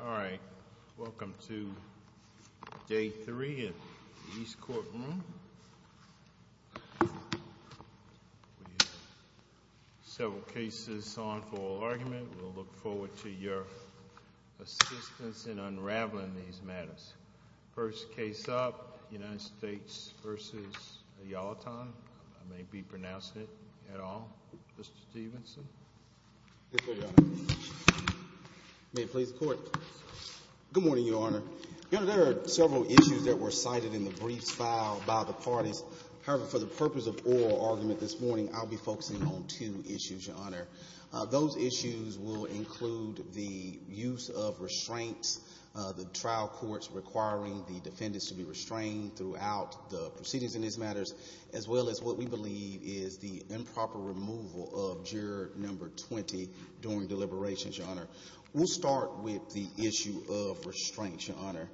All right, welcome to day three in the East Court room. We have several cases on for argument. We'll look forward to your assistance in unraveling these matters. First case up, United States v. Ayelotan. I may be pronouncing it at all, Mr. Stevenson. Yes, sir, Your Honor. May it please the Court. Good morning, Your Honor. Your Honor, there are several issues that were cited in the briefs filed by the parties. However, for the purpose of oral argument this morning, I'll be focusing on two issues, Your Honor. Those issues will include the use of restraints, the trial courts requiring the defendants to be restrained throughout the proceedings in these matters, as well as what we believe is the improper removal of juror number 20 during deliberations, Your Honor. We'll start with the issue of restraints, Your Honor.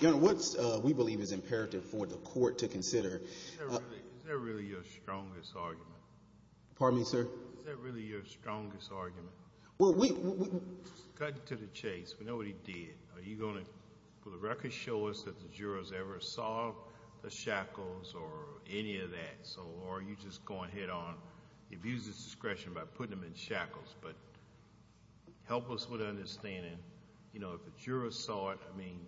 Your Honor, what we believe is imperative for the Court to consider— Is that really your strongest argument? Pardon me, sir? Is that really your strongest argument? Well, we— Cut to the chase. We know what he did. Are you going to, for the record, show us that the jurors ever saw the shackles or any of that? Or are you just going head-on, abuse his discretion by putting him in shackles? But help us with understanding, you know, if the jurors saw it, I mean,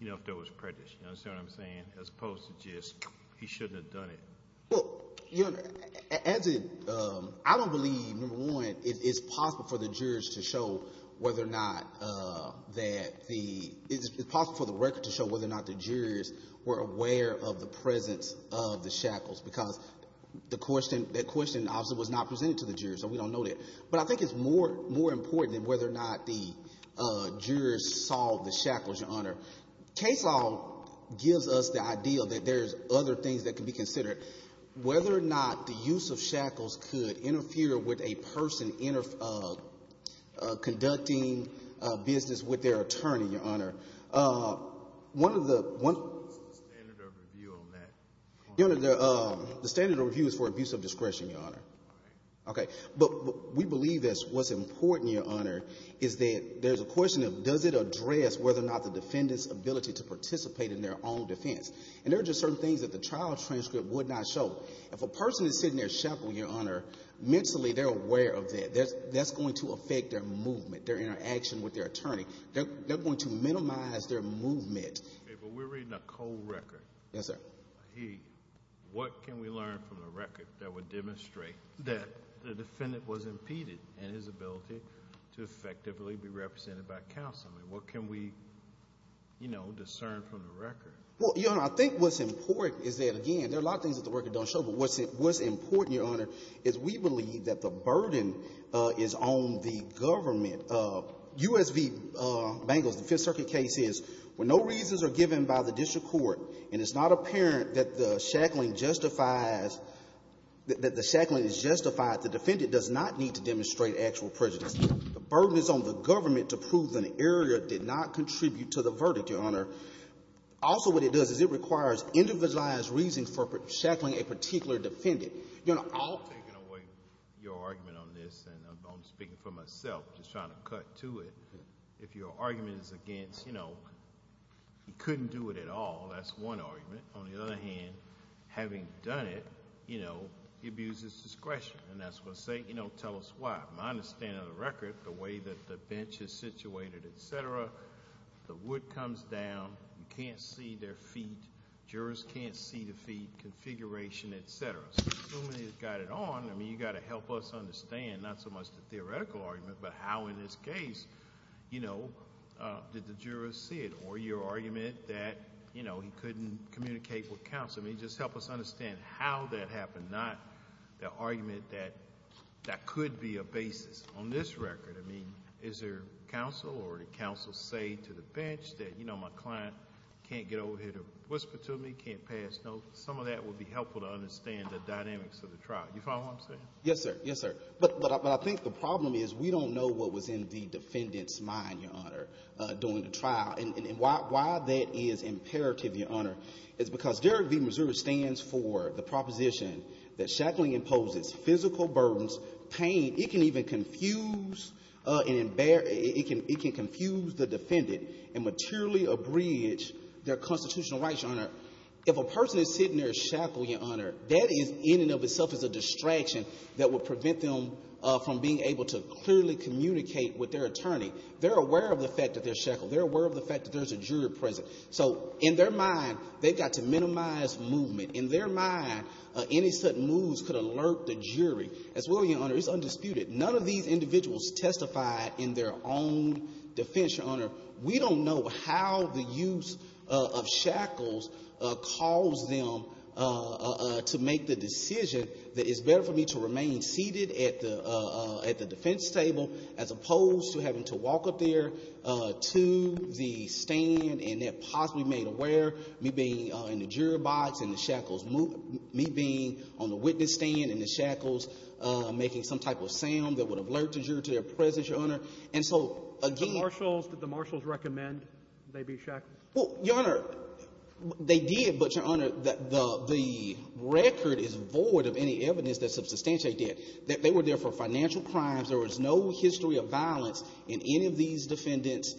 you know, if there was prejudice. You understand what I'm saying? As opposed to just he shouldn't have done it. Well, Your Honor, as it—I don't believe, number one, it's possible for the jurors to show whether or not that the— it's possible for the record to show whether or not the jurors were aware of the presence of the shackles, because the question—that question obviously was not presented to the jurors, so we don't know that. But I think it's more important than whether or not the jurors saw the shackles, Your Honor. Case law gives us the idea that there's other things that can be considered. Whether or not the use of shackles could interfere with a person conducting business with their attorney, Your Honor. One of the— What's the standard of review on that? The standard of review is for abuse of discretion, Your Honor. All right. Okay. But we believe that what's important, Your Honor, is that there's a question of does it address whether or not the defendant's ability to participate in their own defense. And there are just certain things that the trial transcript would not show. If a person is sitting there shackled, Your Honor, mentally they're aware of that. That's going to affect their movement, their interaction with their attorney. They're going to minimize their movement. Okay, but we're reading a cold record. Yes, sir. What can we learn from the record that would demonstrate that the defendant was impeded in his ability to effectively be represented by counsel? I mean, what can we, you know, discern from the record? Well, Your Honor, I think what's important is that, again, there are a lot of things that the record don't show. But what's important, Your Honor, is we believe that the burden is on the government. U.S. v. Bengals, the Fifth Circuit case, is when no reasons are given by the district court and it's not apparent that the shackling justifies, that the shackling is justified, the defendant does not need to demonstrate actual prejudice. The burden is on the government to prove that an error did not contribute to the verdict, Your Honor. Also, what it does is it requires individualized reasons for shackling a particular defendant. I'll take away your argument on this, and I'm speaking for myself, just trying to cut to it. If your argument is against, you know, he couldn't do it at all, that's one argument. On the other hand, having done it, you know, he abuses discretion. And that's going to say, you know, tell us why. My understanding of the record, the way that the bench is situated, et cetera, the wood comes down, you can't see their feet, jurors can't see the feet, configuration, et cetera. Assuming you've got it on, I mean, you've got to help us understand, not so much the theoretical argument, but how in this case, you know, did the jurors see it? Or your argument that, you know, he couldn't communicate with counsel. I mean, just help us understand how that happened, not the argument that that could be a basis. On this record, I mean, is there counsel or did counsel say to the bench that, you know, my client can't get over here to whisper to me, can't pass notes? I think some of that would be helpful to understand the dynamics of the trial. You follow what I'm saying? Yes, sir. Yes, sir. But I think the problem is we don't know what was in the defendant's mind, Your Honor, during the trial. And why that is imperative, Your Honor, is because Derek v. Missouri stands for the proposition that shackling imposes physical burdens, pain. It can even confuse and it can confuse the defendant and materially abridge their constitutional rights, Your Honor. If a person is sitting there shackled, Your Honor, that is in and of itself is a distraction that would prevent them from being able to clearly communicate with their attorney. They're aware of the fact that they're shackled. They're aware of the fact that there's a jury present. So in their mind, they've got to minimize movement. In their mind, any sudden moves could alert the jury as well, Your Honor. It's undisputed. None of these individuals testified in their own defense, Your Honor. We don't know how the use of shackles caused them to make the decision that it's better for me to remain seated at the defense table as opposed to having to walk up there to the stand and then possibly made aware, me being in the jury box and the shackles moving, me being on the witness stand and the shackles making some type of sound that would alert the jury to their presence, Your Honor. And so, again — The marshals, did the marshals recommend they be shackled? Well, Your Honor, they did. But, Your Honor, the record is void of any evidence that substantiates that. They were there for financial crimes. There was no history of violence in any of these defendants'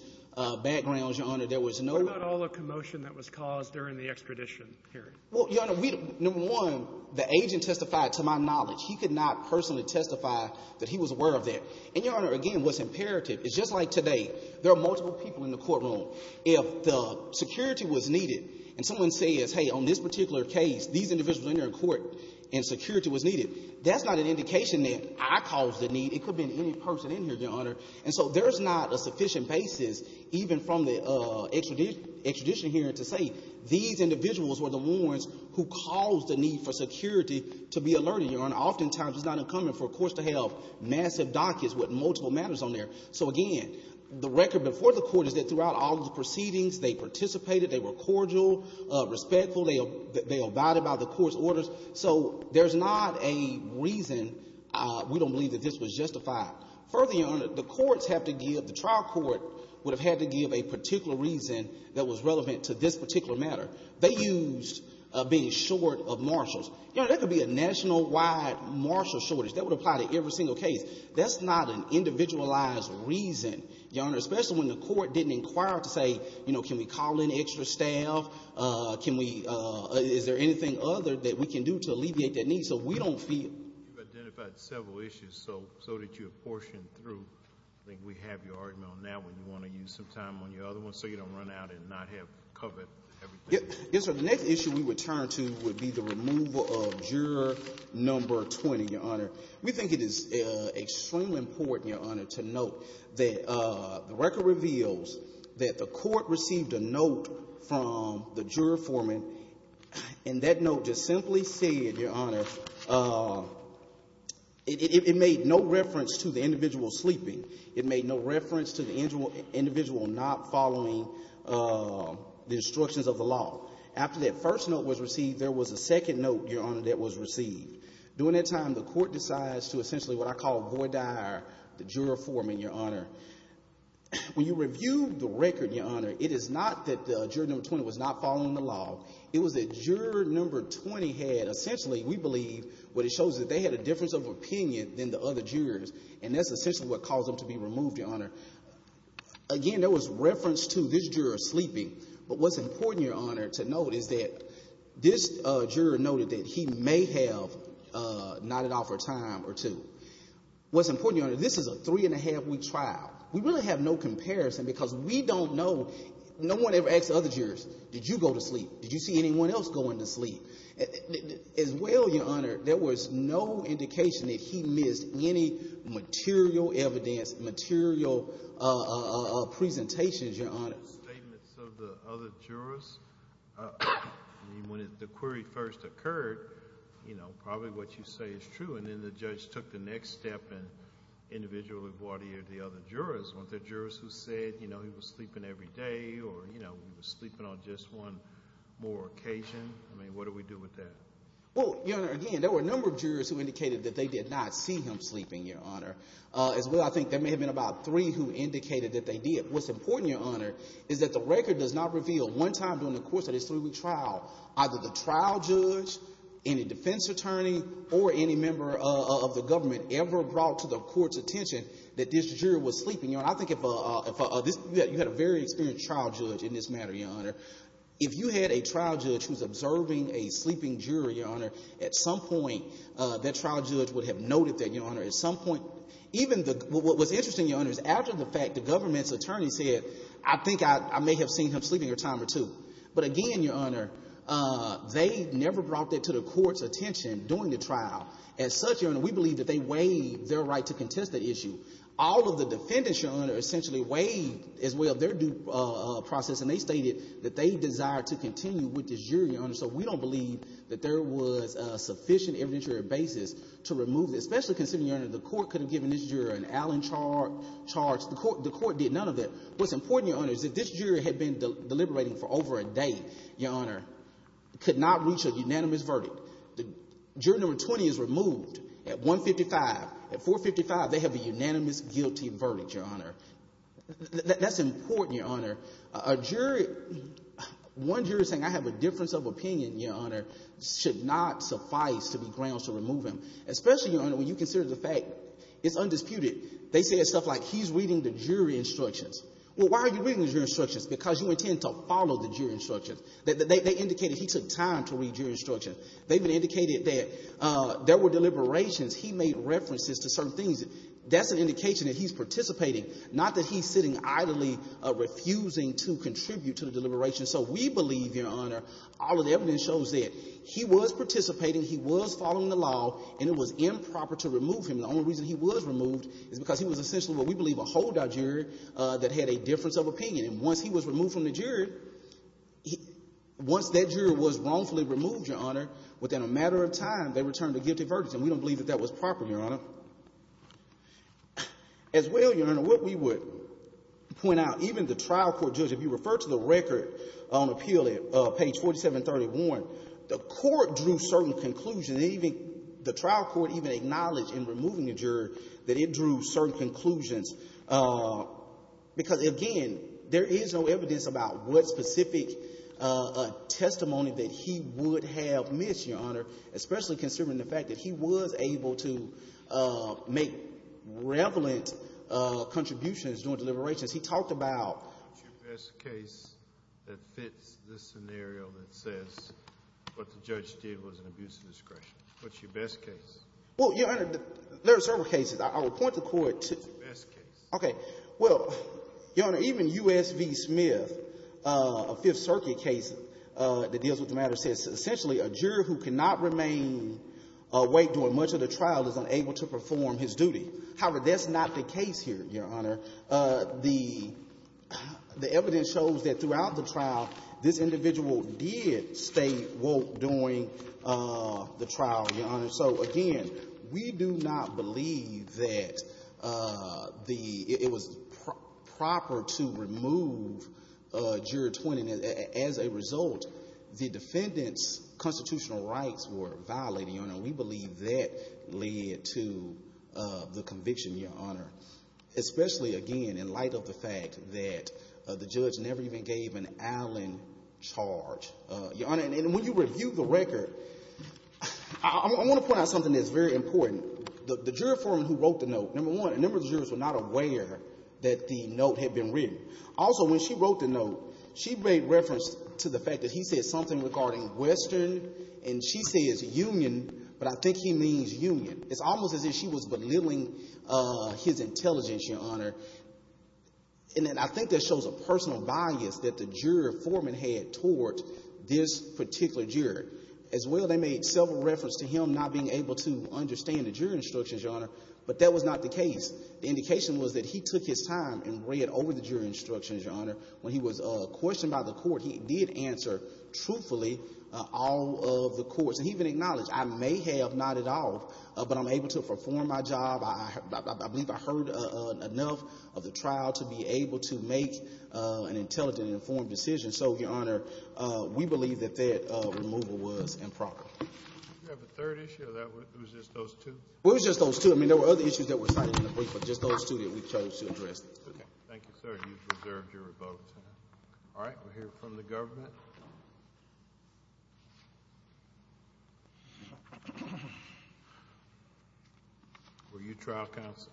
backgrounds, Your Honor. There was no — What about all the commotion that was caused during the extradition hearing? Well, Your Honor, we — number one, the agent testified to my knowledge. He could not personally testify that he was aware of that. And, Your Honor, again, what's imperative is, just like today, there are multiple people in the courtroom. If the security was needed and someone says, hey, on this particular case, these individuals are in court and security was needed, that's not an indication that I caused the need. It could have been any person in here, Your Honor. And so there is not a sufficient basis, even from the extradition hearing, to say these individuals were the ones who caused the need for security to be alerted, Your Honor. And oftentimes, it's not incumbent for courts to have massive dockets with multiple matters on there. So, again, the record before the Court is that throughout all of the proceedings, they participated, they were cordial, respectful, they abided by the court's orders. So there's not a reason we don't believe that this was justified. Further, Your Honor, the courts have to give — the trial court would have had to give a particular reason that was relevant to this particular matter. They used being short of marshals. Your Honor, that could be a nationwide marshal shortage. That would apply to every single case. That's not an individualized reason, Your Honor, especially when the court didn't inquire to say, you know, can we call in extra staff? Can we — is there anything other that we can do to alleviate that need? So we don't feel — You've identified several issues so that you have portioned through. I think we have your argument on that one. Do you want to use some time on your other ones so you don't run out and not have covered everything? Yes, Your Honor. The next issue we would turn to would be the removal of juror number 20, Your Honor. We think it is extremely important, Your Honor, to note that the record reveals that the court received a note from the juror foreman, and that note just simply said, Your Honor, it made no reference to the individual sleeping. It made no reference to the individual not following the instructions of the law. After that first note was received, there was a second note, Your Honor, that was received. During that time, the court decides to essentially what I call void dire the juror foreman, Your Honor. When you review the record, Your Honor, it is not that juror number 20 was not following the law. It was that juror number 20 had essentially, we believe, what it shows is that they had a difference of opinion than the other jurors, and that's essentially what caused them to be removed, Your Honor. Again, there was reference to this juror sleeping. But what's important, Your Honor, to note is that this juror noted that he may have nodded off for a time or two. What's important, Your Honor, this is a three-and-a-half-week trial. We really have no comparison because we don't know. No one ever asked the other jurors, did you go to sleep? Did you see anyone else going to sleep? As well, Your Honor, there was no indication that he missed any material evidence, material presentations, Your Honor. The statements of the other jurors, when the query first occurred, you know, probably what you say is true, and then the judge took the next step and individually voidied the other jurors. Weren't there jurors who said, you know, he was sleeping every day or, you know, he was sleeping on just one more occasion? I mean, what do we do with that? Well, Your Honor, again, there were a number of jurors who indicated that they did not see him sleeping, Your Honor. As well, I think there may have been about three who indicated that they did. What's important, Your Honor, is that the record does not reveal one time during the course of this three-week trial either the trial judge, any defense attorney, or any member of the government ever brought to the court's attention that this juror was sleeping. Your Honor, I think if a – you had a very experienced trial judge in this matter, Your Honor. If you had a trial judge who's observing a sleeping juror, Your Honor, at some point, that trial judge would have noted that, Your Honor. At some point, even the – what was interesting, Your Honor, is after the fact, the government's attorney said, I think I may have seen him sleeping a time or two. But again, Your Honor, they never brought that to the court's attention during the trial. As such, Your Honor, we believe that they waived their right to contest the issue. All of the defendants, Your Honor, essentially waived, as well, their due process, and they stated that they desired to continue with this jury, Your Honor. So we don't believe that there was a sufficient evidentiary basis to remove it, especially considering, Your Honor, the court could have given this juror an Allen charge. The court did none of that. What's important, Your Honor, is that this juror had been deliberating for over a day, Your Honor, could not reach a unanimous verdict. Juror number 20 is removed at 155. At 455, they have a unanimous guilty verdict, Your Honor. That's important, Your Honor. A jury – one jury saying, I have a difference of opinion, Your Honor, should not suffice to be grounds to remove him, especially, Your Honor, when you consider the fact it's undisputed. They said stuff like, he's reading the jury instructions. Well, why are you reading the jury instructions? Because you intend to follow the jury instructions. They indicated he took time to read jury instructions. They even indicated that there were deliberations. He made references to certain things. That's an indication that he's participating, not that he's sitting idly, refusing to contribute to the deliberations. So we believe, Your Honor, all of the evidence shows that he was participating, he was following the law, and it was improper to remove him. The only reason he was removed is because he was essentially what we believe, a holdout jury that had a difference of opinion. And once he was removed from the jury, once that jury was wrongfully removed, Your Honor, within a matter of time, they returned the guilty verdict. And we don't believe that that was proper, Your Honor. As well, Your Honor, what we would point out, even the trial court judge, if you refer to the record on appeal at page 4731, the court drew certain conclusions. The trial court even acknowledged in removing the juror that it drew certain conclusions. Because, again, there is no evidence about what specific testimony that he would have missed, Your Honor, especially considering the fact that he was able to make relevant contributions during deliberations. What's your best case that fits this scenario that says what the judge did was an abuse of discretion? What's your best case? Well, Your Honor, there are several cases. I would point the court to the best case. Okay. Well, Your Honor, even U.S. v. Smith, a Fifth Circuit case that deals with the matter, says essentially a juror who cannot remain awake during much of the trial is unable to perform his duty. However, that's not the case here, Your Honor. The evidence shows that throughout the trial, this individual did stay woke during the trial, Your Honor. So, again, we do not believe that it was proper to remove juror 20. As a result, the defendant's constitutional rights were violated, Your Honor. And we believe that led to the conviction, Your Honor, especially, again, in light of the fact that the judge never even gave an Allen charge, Your Honor. And when you review the record, I want to point out something that's very important. The juror for him who wrote the note, number one, a number of jurors were not aware that the note had been written. Also, when she wrote the note, she made reference to the fact that he said something regarding Western, and she says union, but I think he means union. It's almost as if she was belittling his intelligence, Your Honor. And then I think that shows a personal bias that the juror foreman had toward this particular juror. As well, they made several reference to him not being able to understand the jury instructions, Your Honor, but that was not the case. The indication was that he took his time and read over the jury instructions, Your Honor. When he was questioned by the court, he did answer truthfully all of the courts. And he even acknowledged, I may have not at all, but I'm able to perform my job. I believe I heard enough of the trial to be able to make an intelligent and informed decision. So, Your Honor, we believe that that removal was improper. Do you have a third issue? Or was it just those two? It was just those two. I mean, there were other issues that were cited in the brief, but just those two that we chose to address. Okay. Thank you, sir. You've reserved your vote. All right. We'll hear from the government. Were you trial counsel?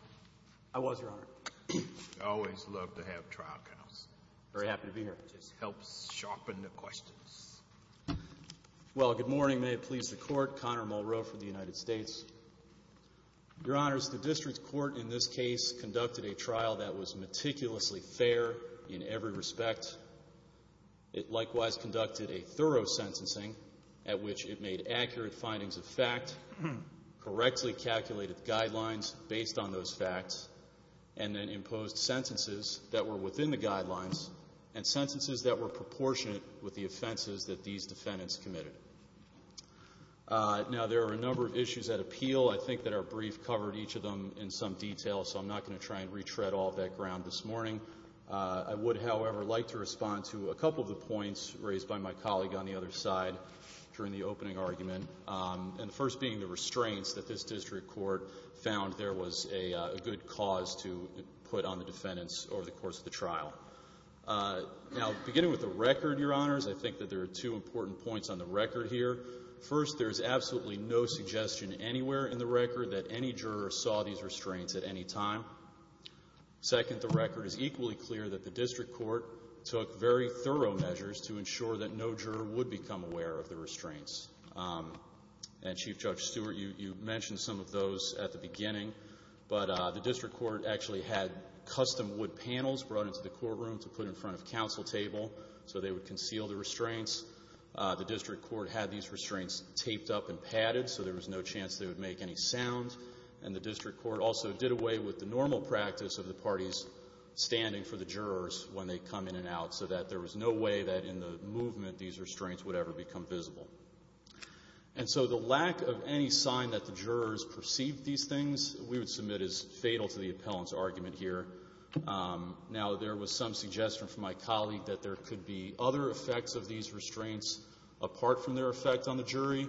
I was, Your Honor. I always love to have trial counsel. I'm very happy to be here. It just helps sharpen the questions. Well, good morning. May it please the Court. Connor Mulrow from the United States. Your Honors, the district court in this case conducted a trial that was meticulously fair in every respect. It likewise conducted a thorough sentencing at which it made accurate findings of fact, correctly calculated guidelines based on those facts, and then imposed sentences that were within the guidelines and sentences that were proportionate with the offenses that these defendants committed. Now, there are a number of issues at appeal. I think that our brief covered each of them in some detail, so I'm not going to try and retread all that ground this morning. I would, however, like to respond to a couple of the points raised by my colleague on the other side during the opening argument, and the first being the restraints that this district court found there was a good cause to put on the defendants over the course of the trial. Now, beginning with the record, Your Honors, I think that there are two important points on the record here. First, there is absolutely no suggestion anywhere in the record that any juror saw these restraints at any time. Second, the record is equally clear that the district court took very thorough measures to ensure that no juror would become aware of the restraints. And Chief Judge Stewart, you mentioned some of those at the beginning, but the district court actually had custom wood panels brought into the courtroom to put in front of counsel table so they would conceal the restraints. The district court had these restraints taped up and padded so there was no chance they would make any sound, and the district court also did away with the normal practice of the parties standing for the jurors when they come in and out so that there was no way that in the movement these restraints would ever become visible. And so the lack of any sign that the jurors perceived these things, we would submit, is fatal to the appellant's argument here. Now, there was some suggestion from my colleague that there could be other effects of these restraints apart from their effect on the jury,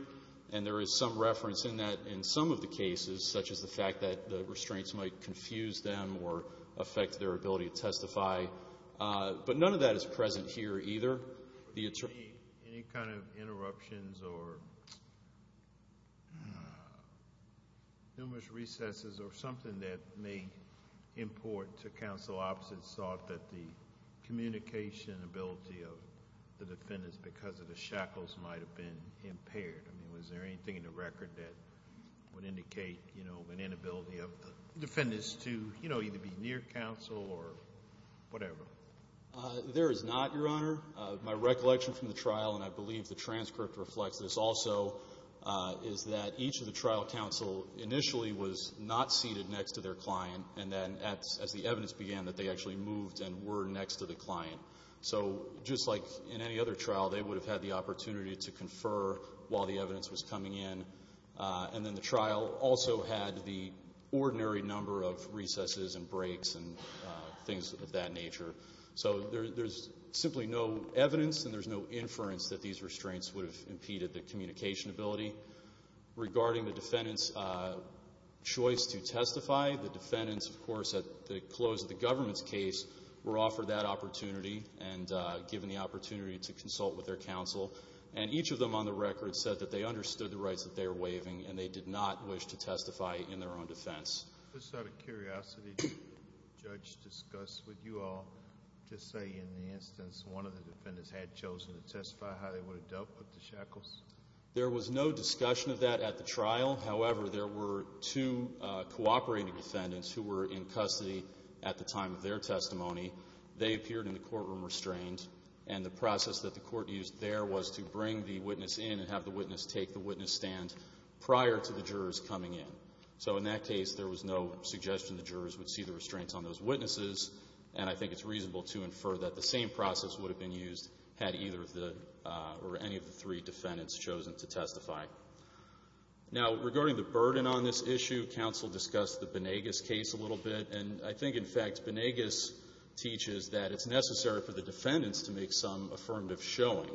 and there is some reference in that in some of the cases, such as the fact that the restraints might confuse them or affect their ability to testify. But none of that is present here either. Any kind of interruptions or numerous recesses or something that may import to counsel opposite thought that the communication ability of the defendants because of the shackles might have been impaired? I mean, was there anything in the record that would indicate an inability of the defendants to either be near counsel or whatever? There is not, Your Honor. My recollection from the trial, and I believe the transcript reflects this also, is that each of the trial counsel initially was not seated next to their client, and then as the evidence began that they actually moved and were next to the client. So just like in any other trial, they would have had the opportunity to confer while the evidence was coming in, and then the trial also had the ordinary number of recesses and breaks and things of that nature. So there's simply no evidence and there's no inference that these restraints would have impeded the communication ability. Regarding the defendants' choice to testify, the defendants, of course, at the close of the government's case were offered that opportunity and given the opportunity to consult with their counsel, and each of them on the record said that they understood the rights that they were waiving and they did not wish to testify in their own defense. Just out of curiosity, did the judge discuss with you all, just say in the instance one of the defendants had chosen to testify, how they would have dealt with the shackles? There was no discussion of that at the trial. However, there were two cooperating defendants who were in custody at the time of their testimony. They appeared in the courtroom restrained, and the process that the court used there was to bring the witness in and have the witness take the witness stand prior to the jurors coming in. So in that case, there was no suggestion the jurors would see the restraints on those witnesses, and I think it's reasonable to infer that the same process would have been used had either or any of the three defendants chosen to testify. Now, regarding the burden on this issue, counsel discussed the Benegas case a little bit, and I think, in fact, Benegas teaches that it's necessary for the defendants to make some affirmative showing.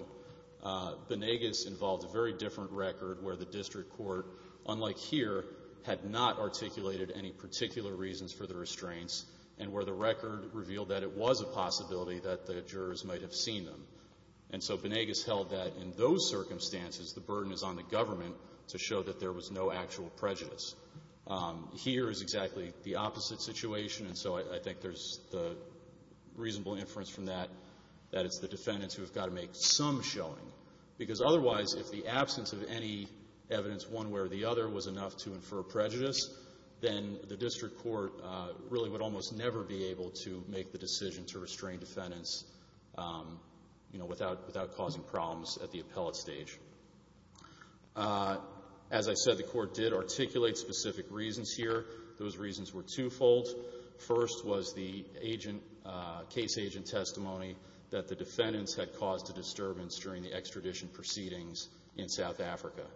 Benegas involved a very different record where the district court, unlike here, had not articulated any particular reasons for the restraints and where the record revealed that it was a possibility that the jurors might have seen them. And so Benegas held that in those circumstances, the burden is on the government to show that there was no actual prejudice. Here is exactly the opposite situation, and so I think there's the reasonable inference from that that it's the defendants who have got to make some showing. Because otherwise, if the absence of any evidence one way or the other was enough to infer prejudice, then the district court really would almost never be able to make the decision to restrain defendants, you know, without causing problems at the appellate stage. As I said, the court did articulate specific reasons here. Those reasons were twofold. First was the case agent testimony that the defendants had caused a disturbance during the extradition proceedings in South Africa.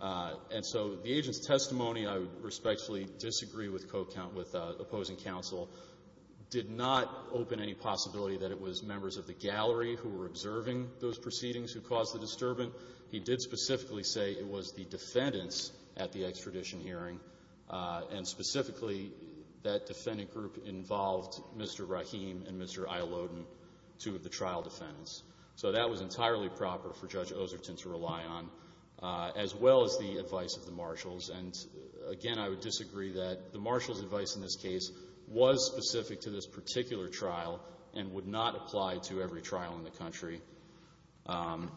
And so the agent's testimony, I respectfully disagree with opposing counsel, did not open any possibility that it was members of the gallery who were observing those proceedings who caused the disturbance. He did specifically say it was the defendants at the extradition hearing, and specifically that defendant group involved Mr. Rahim and Mr. Ayaloden, two of the trial defendants. So that was entirely proper for Judge Oserton to rely on, as well as the advice of the marshals. And, again, I would disagree that the marshals' advice in this case was specific to this particular trial and would not apply to every trial in the country. And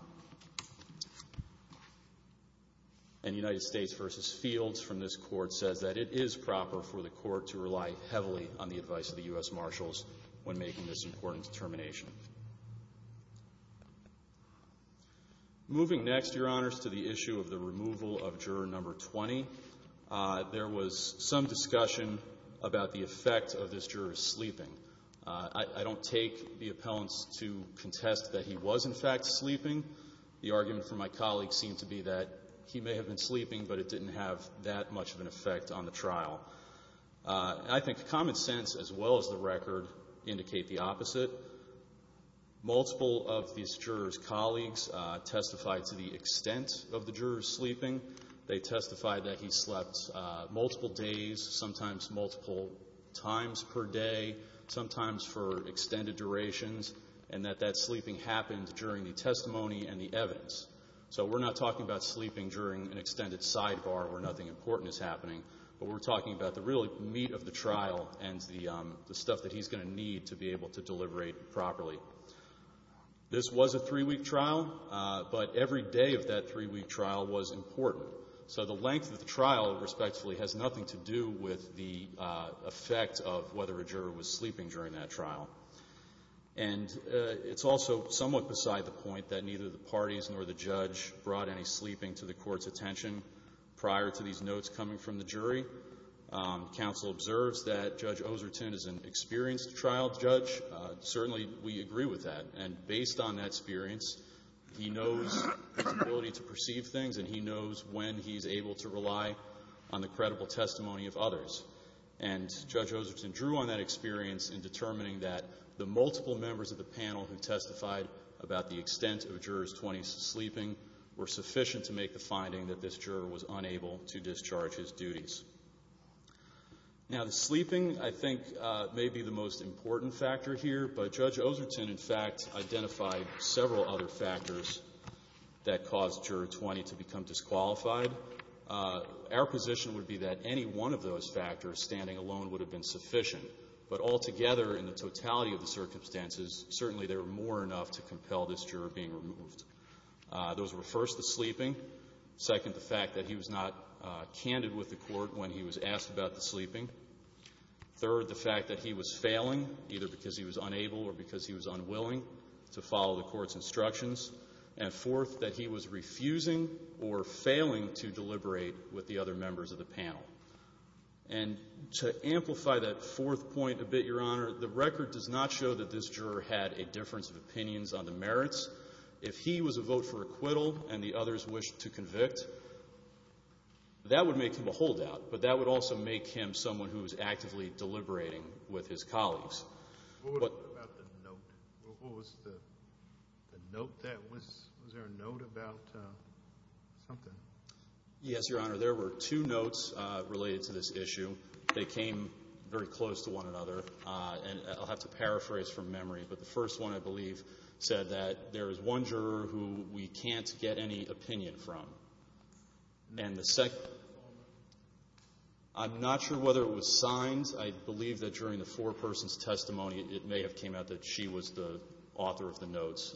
United States v. Fields from this court says that it is proper for the court to rely heavily on the advice of the U.S. marshals when making this important determination. Moving next, Your Honors, to the issue of the removal of juror number 20, there was some discussion about the effect of this juror sleeping. I don't take the appellants to contest that he was, in fact, sleeping. The argument from my colleagues seemed to be that he may have been sleeping, but it didn't have that much of an effect on the trial. I think common sense, as well as the record, indicate the opposite. Multiple of these jurors' colleagues testified to the extent of the juror's sleeping. They testified that he slept multiple days, sometimes multiple times per day, sometimes for extended durations, and that that sleeping happened during the testimony and the evidence. So we're not talking about sleeping during an extended sidebar where nothing important is happening, but we're talking about the real meat of the trial and the stuff that he's going to need to be able to deliberate properly. This was a three-week trial, but every day of that three-week trial was important. So the length of the trial, respectfully, has nothing to do with the effect of whether a juror was sleeping during that trial. And it's also somewhat beside the point that neither the parties nor the judge brought any sleeping to the Court's attention prior to these notes coming from the jury. Counsel observes that Judge Oserton is an experienced trial judge. Certainly, we agree with that. And based on that experience, he knows his ability to perceive things and he knows when he's able to rely on the credible testimony of others. And Judge Oserton drew on that experience in determining that the multiple members of the panel who testified about the extent of a juror's 20 sleeping were sufficient to make the finding that this juror was unable to discharge his duties. Now, the sleeping, I think, may be the most important factor here, but Judge Oserton, in fact, identified several other factors that caused Juror 20 to become disqualified. Our position would be that any one of those factors, standing alone, would have been sufficient. But altogether, in the totality of the circumstances, certainly there were more enough to compel this juror being removed. Those were, first, the sleeping. Second, the fact that he was not candid with the court when he was asked about the sleeping. Third, the fact that he was failing, either because he was unable or because he was unwilling, to follow the court's instructions. And fourth, that he was refusing or failing to deliberate with the other members of the panel. And to amplify that fourth point a bit, Your Honor, the record does not show that this juror had a difference of opinions on the merits. If he was a vote for acquittal and the others wished to convict, that would make him a holdout, but that would also make him someone who was actively deliberating with his colleagues. What about the note? Was there a note about something? Yes, Your Honor. There were two notes related to this issue. They came very close to one another, and I'll have to paraphrase from memory, but the first one, I believe, said that there is one juror who we can't get any opinion from. And the second one, I'm not sure whether it was signed. I believe that during the four persons' testimony, it may have came out that she was the author of the notes,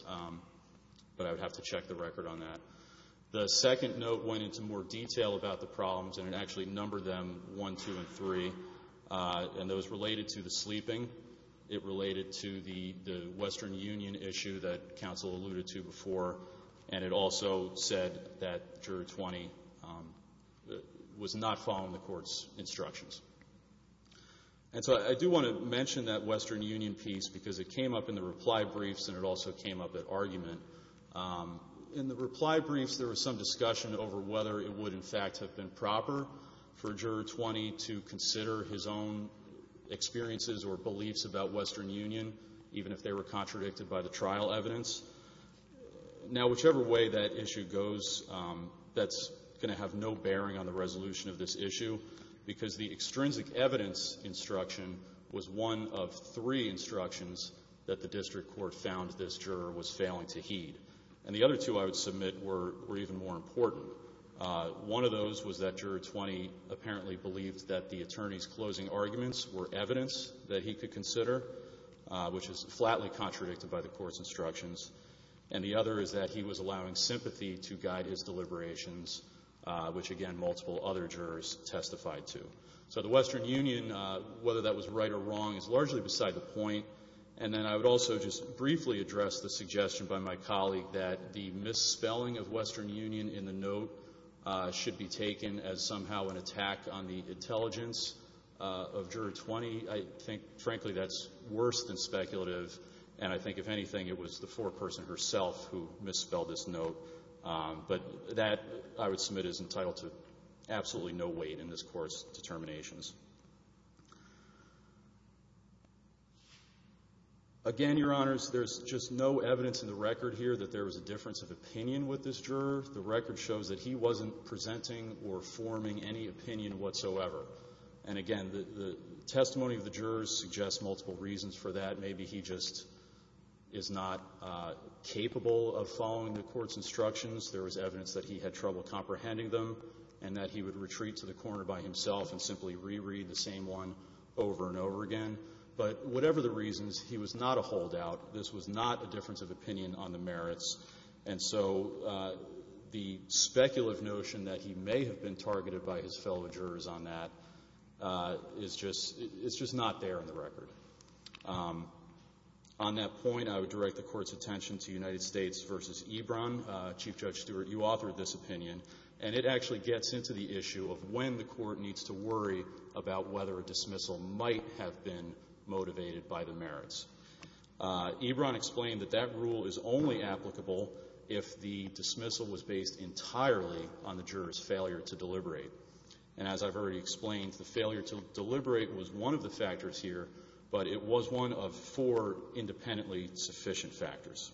but I would have to check the record on that. The second note went into more detail about the problems, and it actually numbered them 1, 2, and 3, and it was related to the sleeping. It related to the Western Union issue that counsel alluded to before, and it also said that Juror 20 was not following the court's instructions. And so I do want to mention that Western Union piece because it came up in the reply briefs and it also came up at argument. In the reply briefs, there was some discussion over whether it would, in fact, have been proper for Juror 20 to consider his own experiences or beliefs about Western Union, even if they were contradicted by the trial evidence. Now, whichever way that issue goes, that's going to have no bearing on the resolution of this issue because the extrinsic evidence instruction was one of three instructions that the district court found this juror was failing to heed. And the other two, I would submit, were even more important. One of those was that Juror 20 apparently believed that the attorney's closing arguments were evidence that he could consider, which is flatly contradicted by the court's instructions. And the other is that he was allowing sympathy to guide his deliberations, which, again, multiple other jurors testified to. So the Western Union, whether that was right or wrong, is largely beside the point. And then I would also just briefly address the suggestion by my colleague that the misspelling of Western Union in the note should be taken as somehow an attack on the intelligence of Juror 20. I think, frankly, that's worse than speculative, and I think, if anything, it was the foreperson herself who misspelled this note. But that, I would submit, is entitled to absolutely no weight in this Court's determinations. Again, Your Honors, there's just no evidence in the record here that there was a difference of opinion with this juror. The record shows that he wasn't presenting or forming any opinion whatsoever. And, again, the testimony of the jurors suggests multiple reasons for that. Maybe he just is not capable of following the court's instructions. There was evidence that he had trouble comprehending them and that he would retreat to the corner by himself and simply reread the same one over and over again. But whatever the reasons, he was not a holdout. This was not a difference of opinion on the merits. And so the speculative notion that he may have been targeted by his fellow jurors on that is just not there in the record. On that point, I would direct the Court's attention to United States v. Ebron. Chief Judge Stewart, you authored this opinion, and it actually gets into the issue of when the Court needs to worry about whether a dismissal might have been motivated by the merits. Ebron explained that that rule is only applicable if the dismissal was based entirely on the juror's failure to deliberate. And as I've already explained, the failure to deliberate was one of the factors here, but it was one of four independently sufficient factors.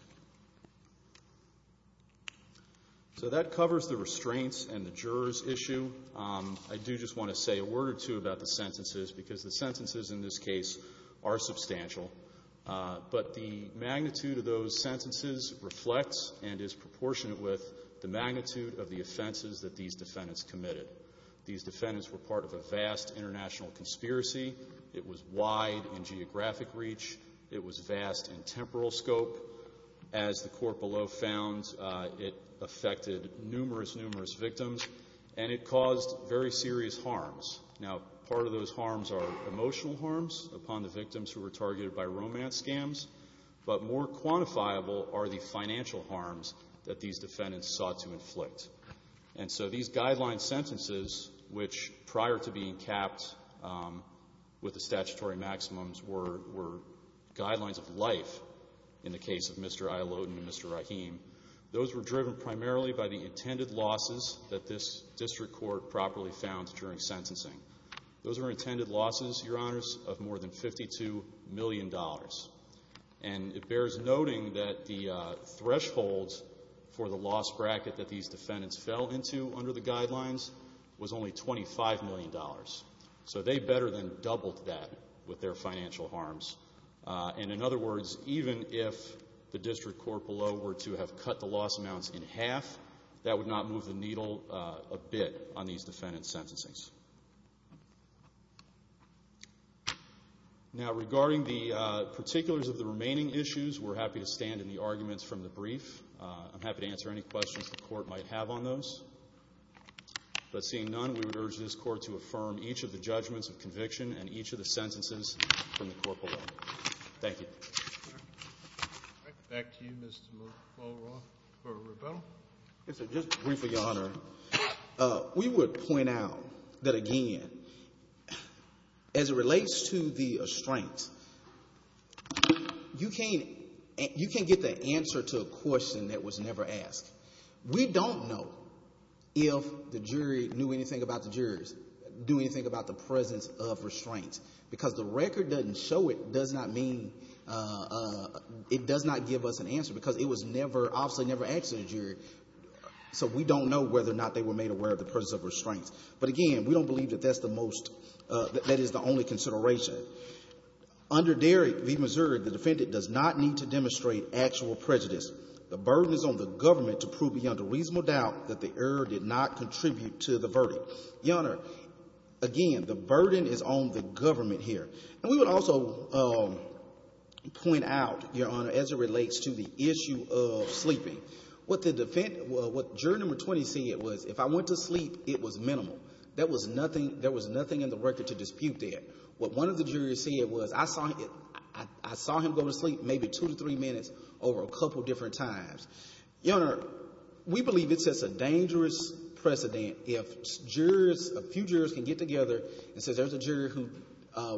So that covers the restraints and the jurors' issue. I do just want to say a word or two about the sentences because the sentences in this case are substantial. But the magnitude of those sentences reflects and is proportionate with the magnitude of the offenses that these defendants committed. These defendants were part of a vast international conspiracy. It was wide in geographic reach. It was vast in temporal scope. As the Court below found, it affected numerous, numerous victims, and it caused very serious harms. Now, part of those harms are emotional harms upon the victims who were targeted by romance scams, but more quantifiable are the financial harms that these defendants sought to inflict. And so these guideline sentences, which prior to being capped with the statutory maximums, were guidelines of life in the case of Mr. Ayaloden and Mr. Rahim, those were driven primarily by the intended losses that this district court properly found during sentencing. Those were intended losses, Your Honors, of more than $52 million. And it bears noting that the threshold for the loss bracket that these defendants fell into under the guidelines was only $25 million. So they better than doubled that with their financial harms. And in other words, even if the district court below were to have cut the loss amounts in half, that would not move the needle a bit on these defendant's sentences. Now, regarding the particulars of the remaining issues, we're happy to stand in the arguments from the brief. I'm happy to answer any questions the Court might have on those. But seeing none, we would urge this Court to affirm each of the judgments of conviction and each of the sentences from the Court below. Thank you. All right. Back to you, Mr. McFarland, for rebuttal. Yes, sir. Just briefly, Your Honor, we would point out that, again, as it relates to the restraints, you can't get the answer to a question that was never asked. We don't know if the jury knew anything about the jurors, knew anything about the presence of restraints, because the record doesn't show it does not mean it does not give us an answer, because it was never, obviously, never asked of the jury. So we don't know whether or not they were made aware of the presence of restraints. But, again, we don't believe that that's the most, that that is the only consideration. Under Derrick v. Missouri, the defendant does not need to demonstrate actual prejudice. The burden is on the government to prove beyond a reasonable doubt that the error did not contribute to the verdict. Your Honor, again, the burden is on the government here. And we would also point out, Your Honor, as it relates to the issue of sleeping, what the defense, what jury number 20 said was, if I went to sleep, it was minimal. There was nothing in the record to dispute that. What one of the jurors said was, I saw him go to sleep maybe two to three minutes over a couple different times. Your Honor, we believe it sets a dangerous precedent if jurors, a few jurors can get together and say, there's a juror who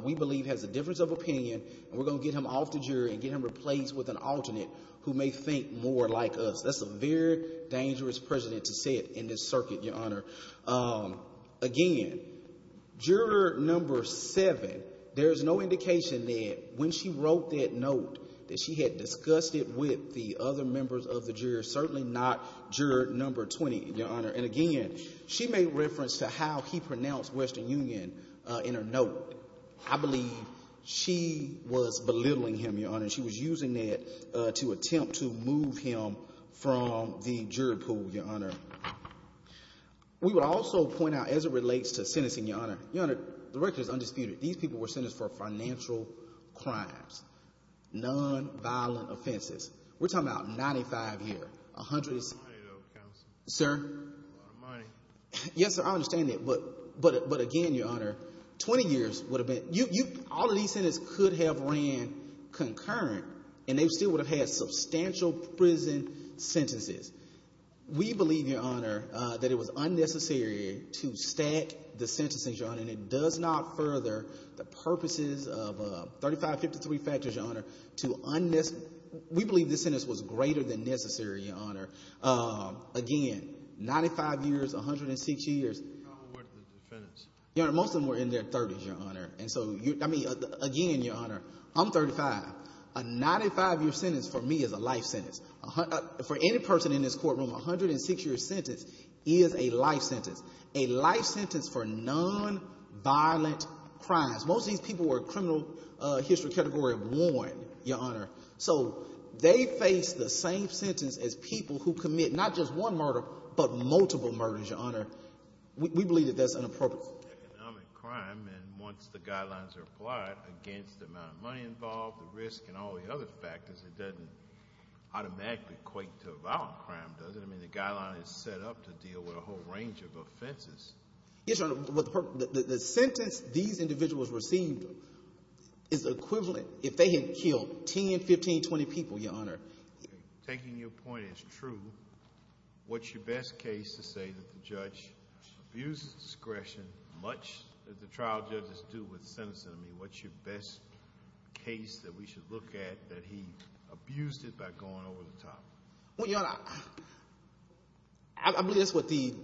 we believe has a difference of opinion, and we're going to get him off the jury and get him replaced with an alternate who may think more like us. That's a very dangerous precedent to set in this circuit, Your Honor. Again, juror number seven, there is no indication that when she wrote that note, that she had discussed it with the other members of the jury, certainly not juror number 20, Your Honor. And again, she made reference to how he pronounced Western Union in her note. I believe she was belittling him, Your Honor. She was using it to attempt to move him from the jury pool, Your Honor. We would also point out, as it relates to sentencing, Your Honor, Your Honor, the record is undisputed. These people were sentenced for financial crimes, nonviolent offenses. We're talking about 95 years. A lot of money, though, counsel. Sir? A lot of money. Yes, sir, I understand that. But again, Your Honor, 20 years would have been ‑‑ all of these sentences could have ran concurrent, and they still would have had substantial prison sentences. We believe, Your Honor, that it was unnecessary to stack the sentences, Your Honor, and it does not further the purposes of 3553 factors, Your Honor. We believe the sentence was greater than necessary, Your Honor. Again, 95 years, 106 years. How old were the defendants? Your Honor, most of them were in their 30s, Your Honor. And so, I mean, again, Your Honor, I'm 35. A 95-year sentence for me is a life sentence. For any person in this courtroom, a 106-year sentence is a life sentence, a life sentence for nonviolent crimes. Most of these people were criminal history category 1, Your Honor. So, they face the same sentence as people who commit not just one murder, but multiple murders, Your Honor. We believe that that's inappropriate. Economic crime, and once the guidelines are applied against the amount of money involved, the risk, and all the other factors, it doesn't automatically equate to a violent crime, does it? I mean, the guideline is set up to deal with a whole range of offenses. Yes, Your Honor. The sentence these individuals received is equivalent if they had killed 10, 15, 20 people, Your Honor. Taking your point as true, what's your best case to say that the judge abused discretion, much as the trial judges do with sentencing? I mean, what's your best case that we should look at that he abused it by going over the top? Well, Your Honor, I believe that's what the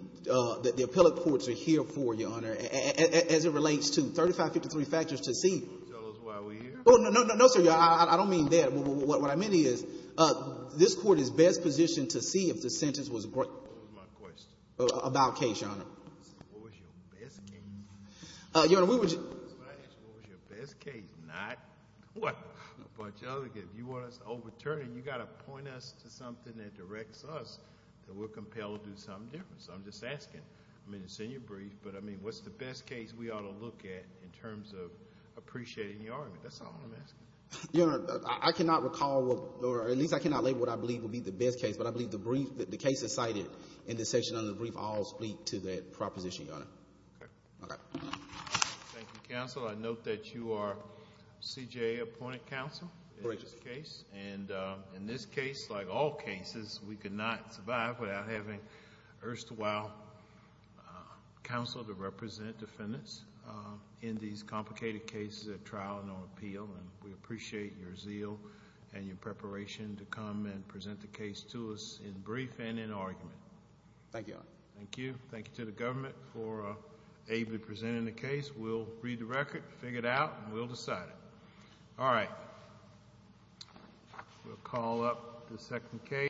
appellate courts are here for, Your Honor, as it relates to 35, 53 factors to see. Tell us why we're here? Oh, no, no, no, sir. I don't mean that. What I mean is this court is best positioned to see if the sentence was about case, Your Honor. What was your best case? Your Honor, we were just— What was your best case, not a bunch of other cases. If you want us to overturn it, you've got to point us to something that directs us that we're compelled to do something different. So I'm just asking. I mean, it's in your brief, but, I mean, what's the best case we ought to look at in terms of appreciating the argument? That's all I'm asking. Your Honor, I cannot recall, or at least I cannot label what I believe will be the best case, but I believe the brief that the case is cited in this section of the brief all speak to that proposition, Your Honor. Okay. Okay. Thank you, counsel. I note that you are CJA appointed counsel in this case, and in this case, like all cases, we could not survive without having erstwhile counsel to represent defendants in these complicated cases at trial and on appeal, and we appreciate your zeal and your preparation to come and present the case to us in brief and in argument. Thank you, Your Honor. Thank you. Thank you to the government for ably presenting the case. We'll read the record, figure it out, and we'll decide it. All right. We'll call up the second case.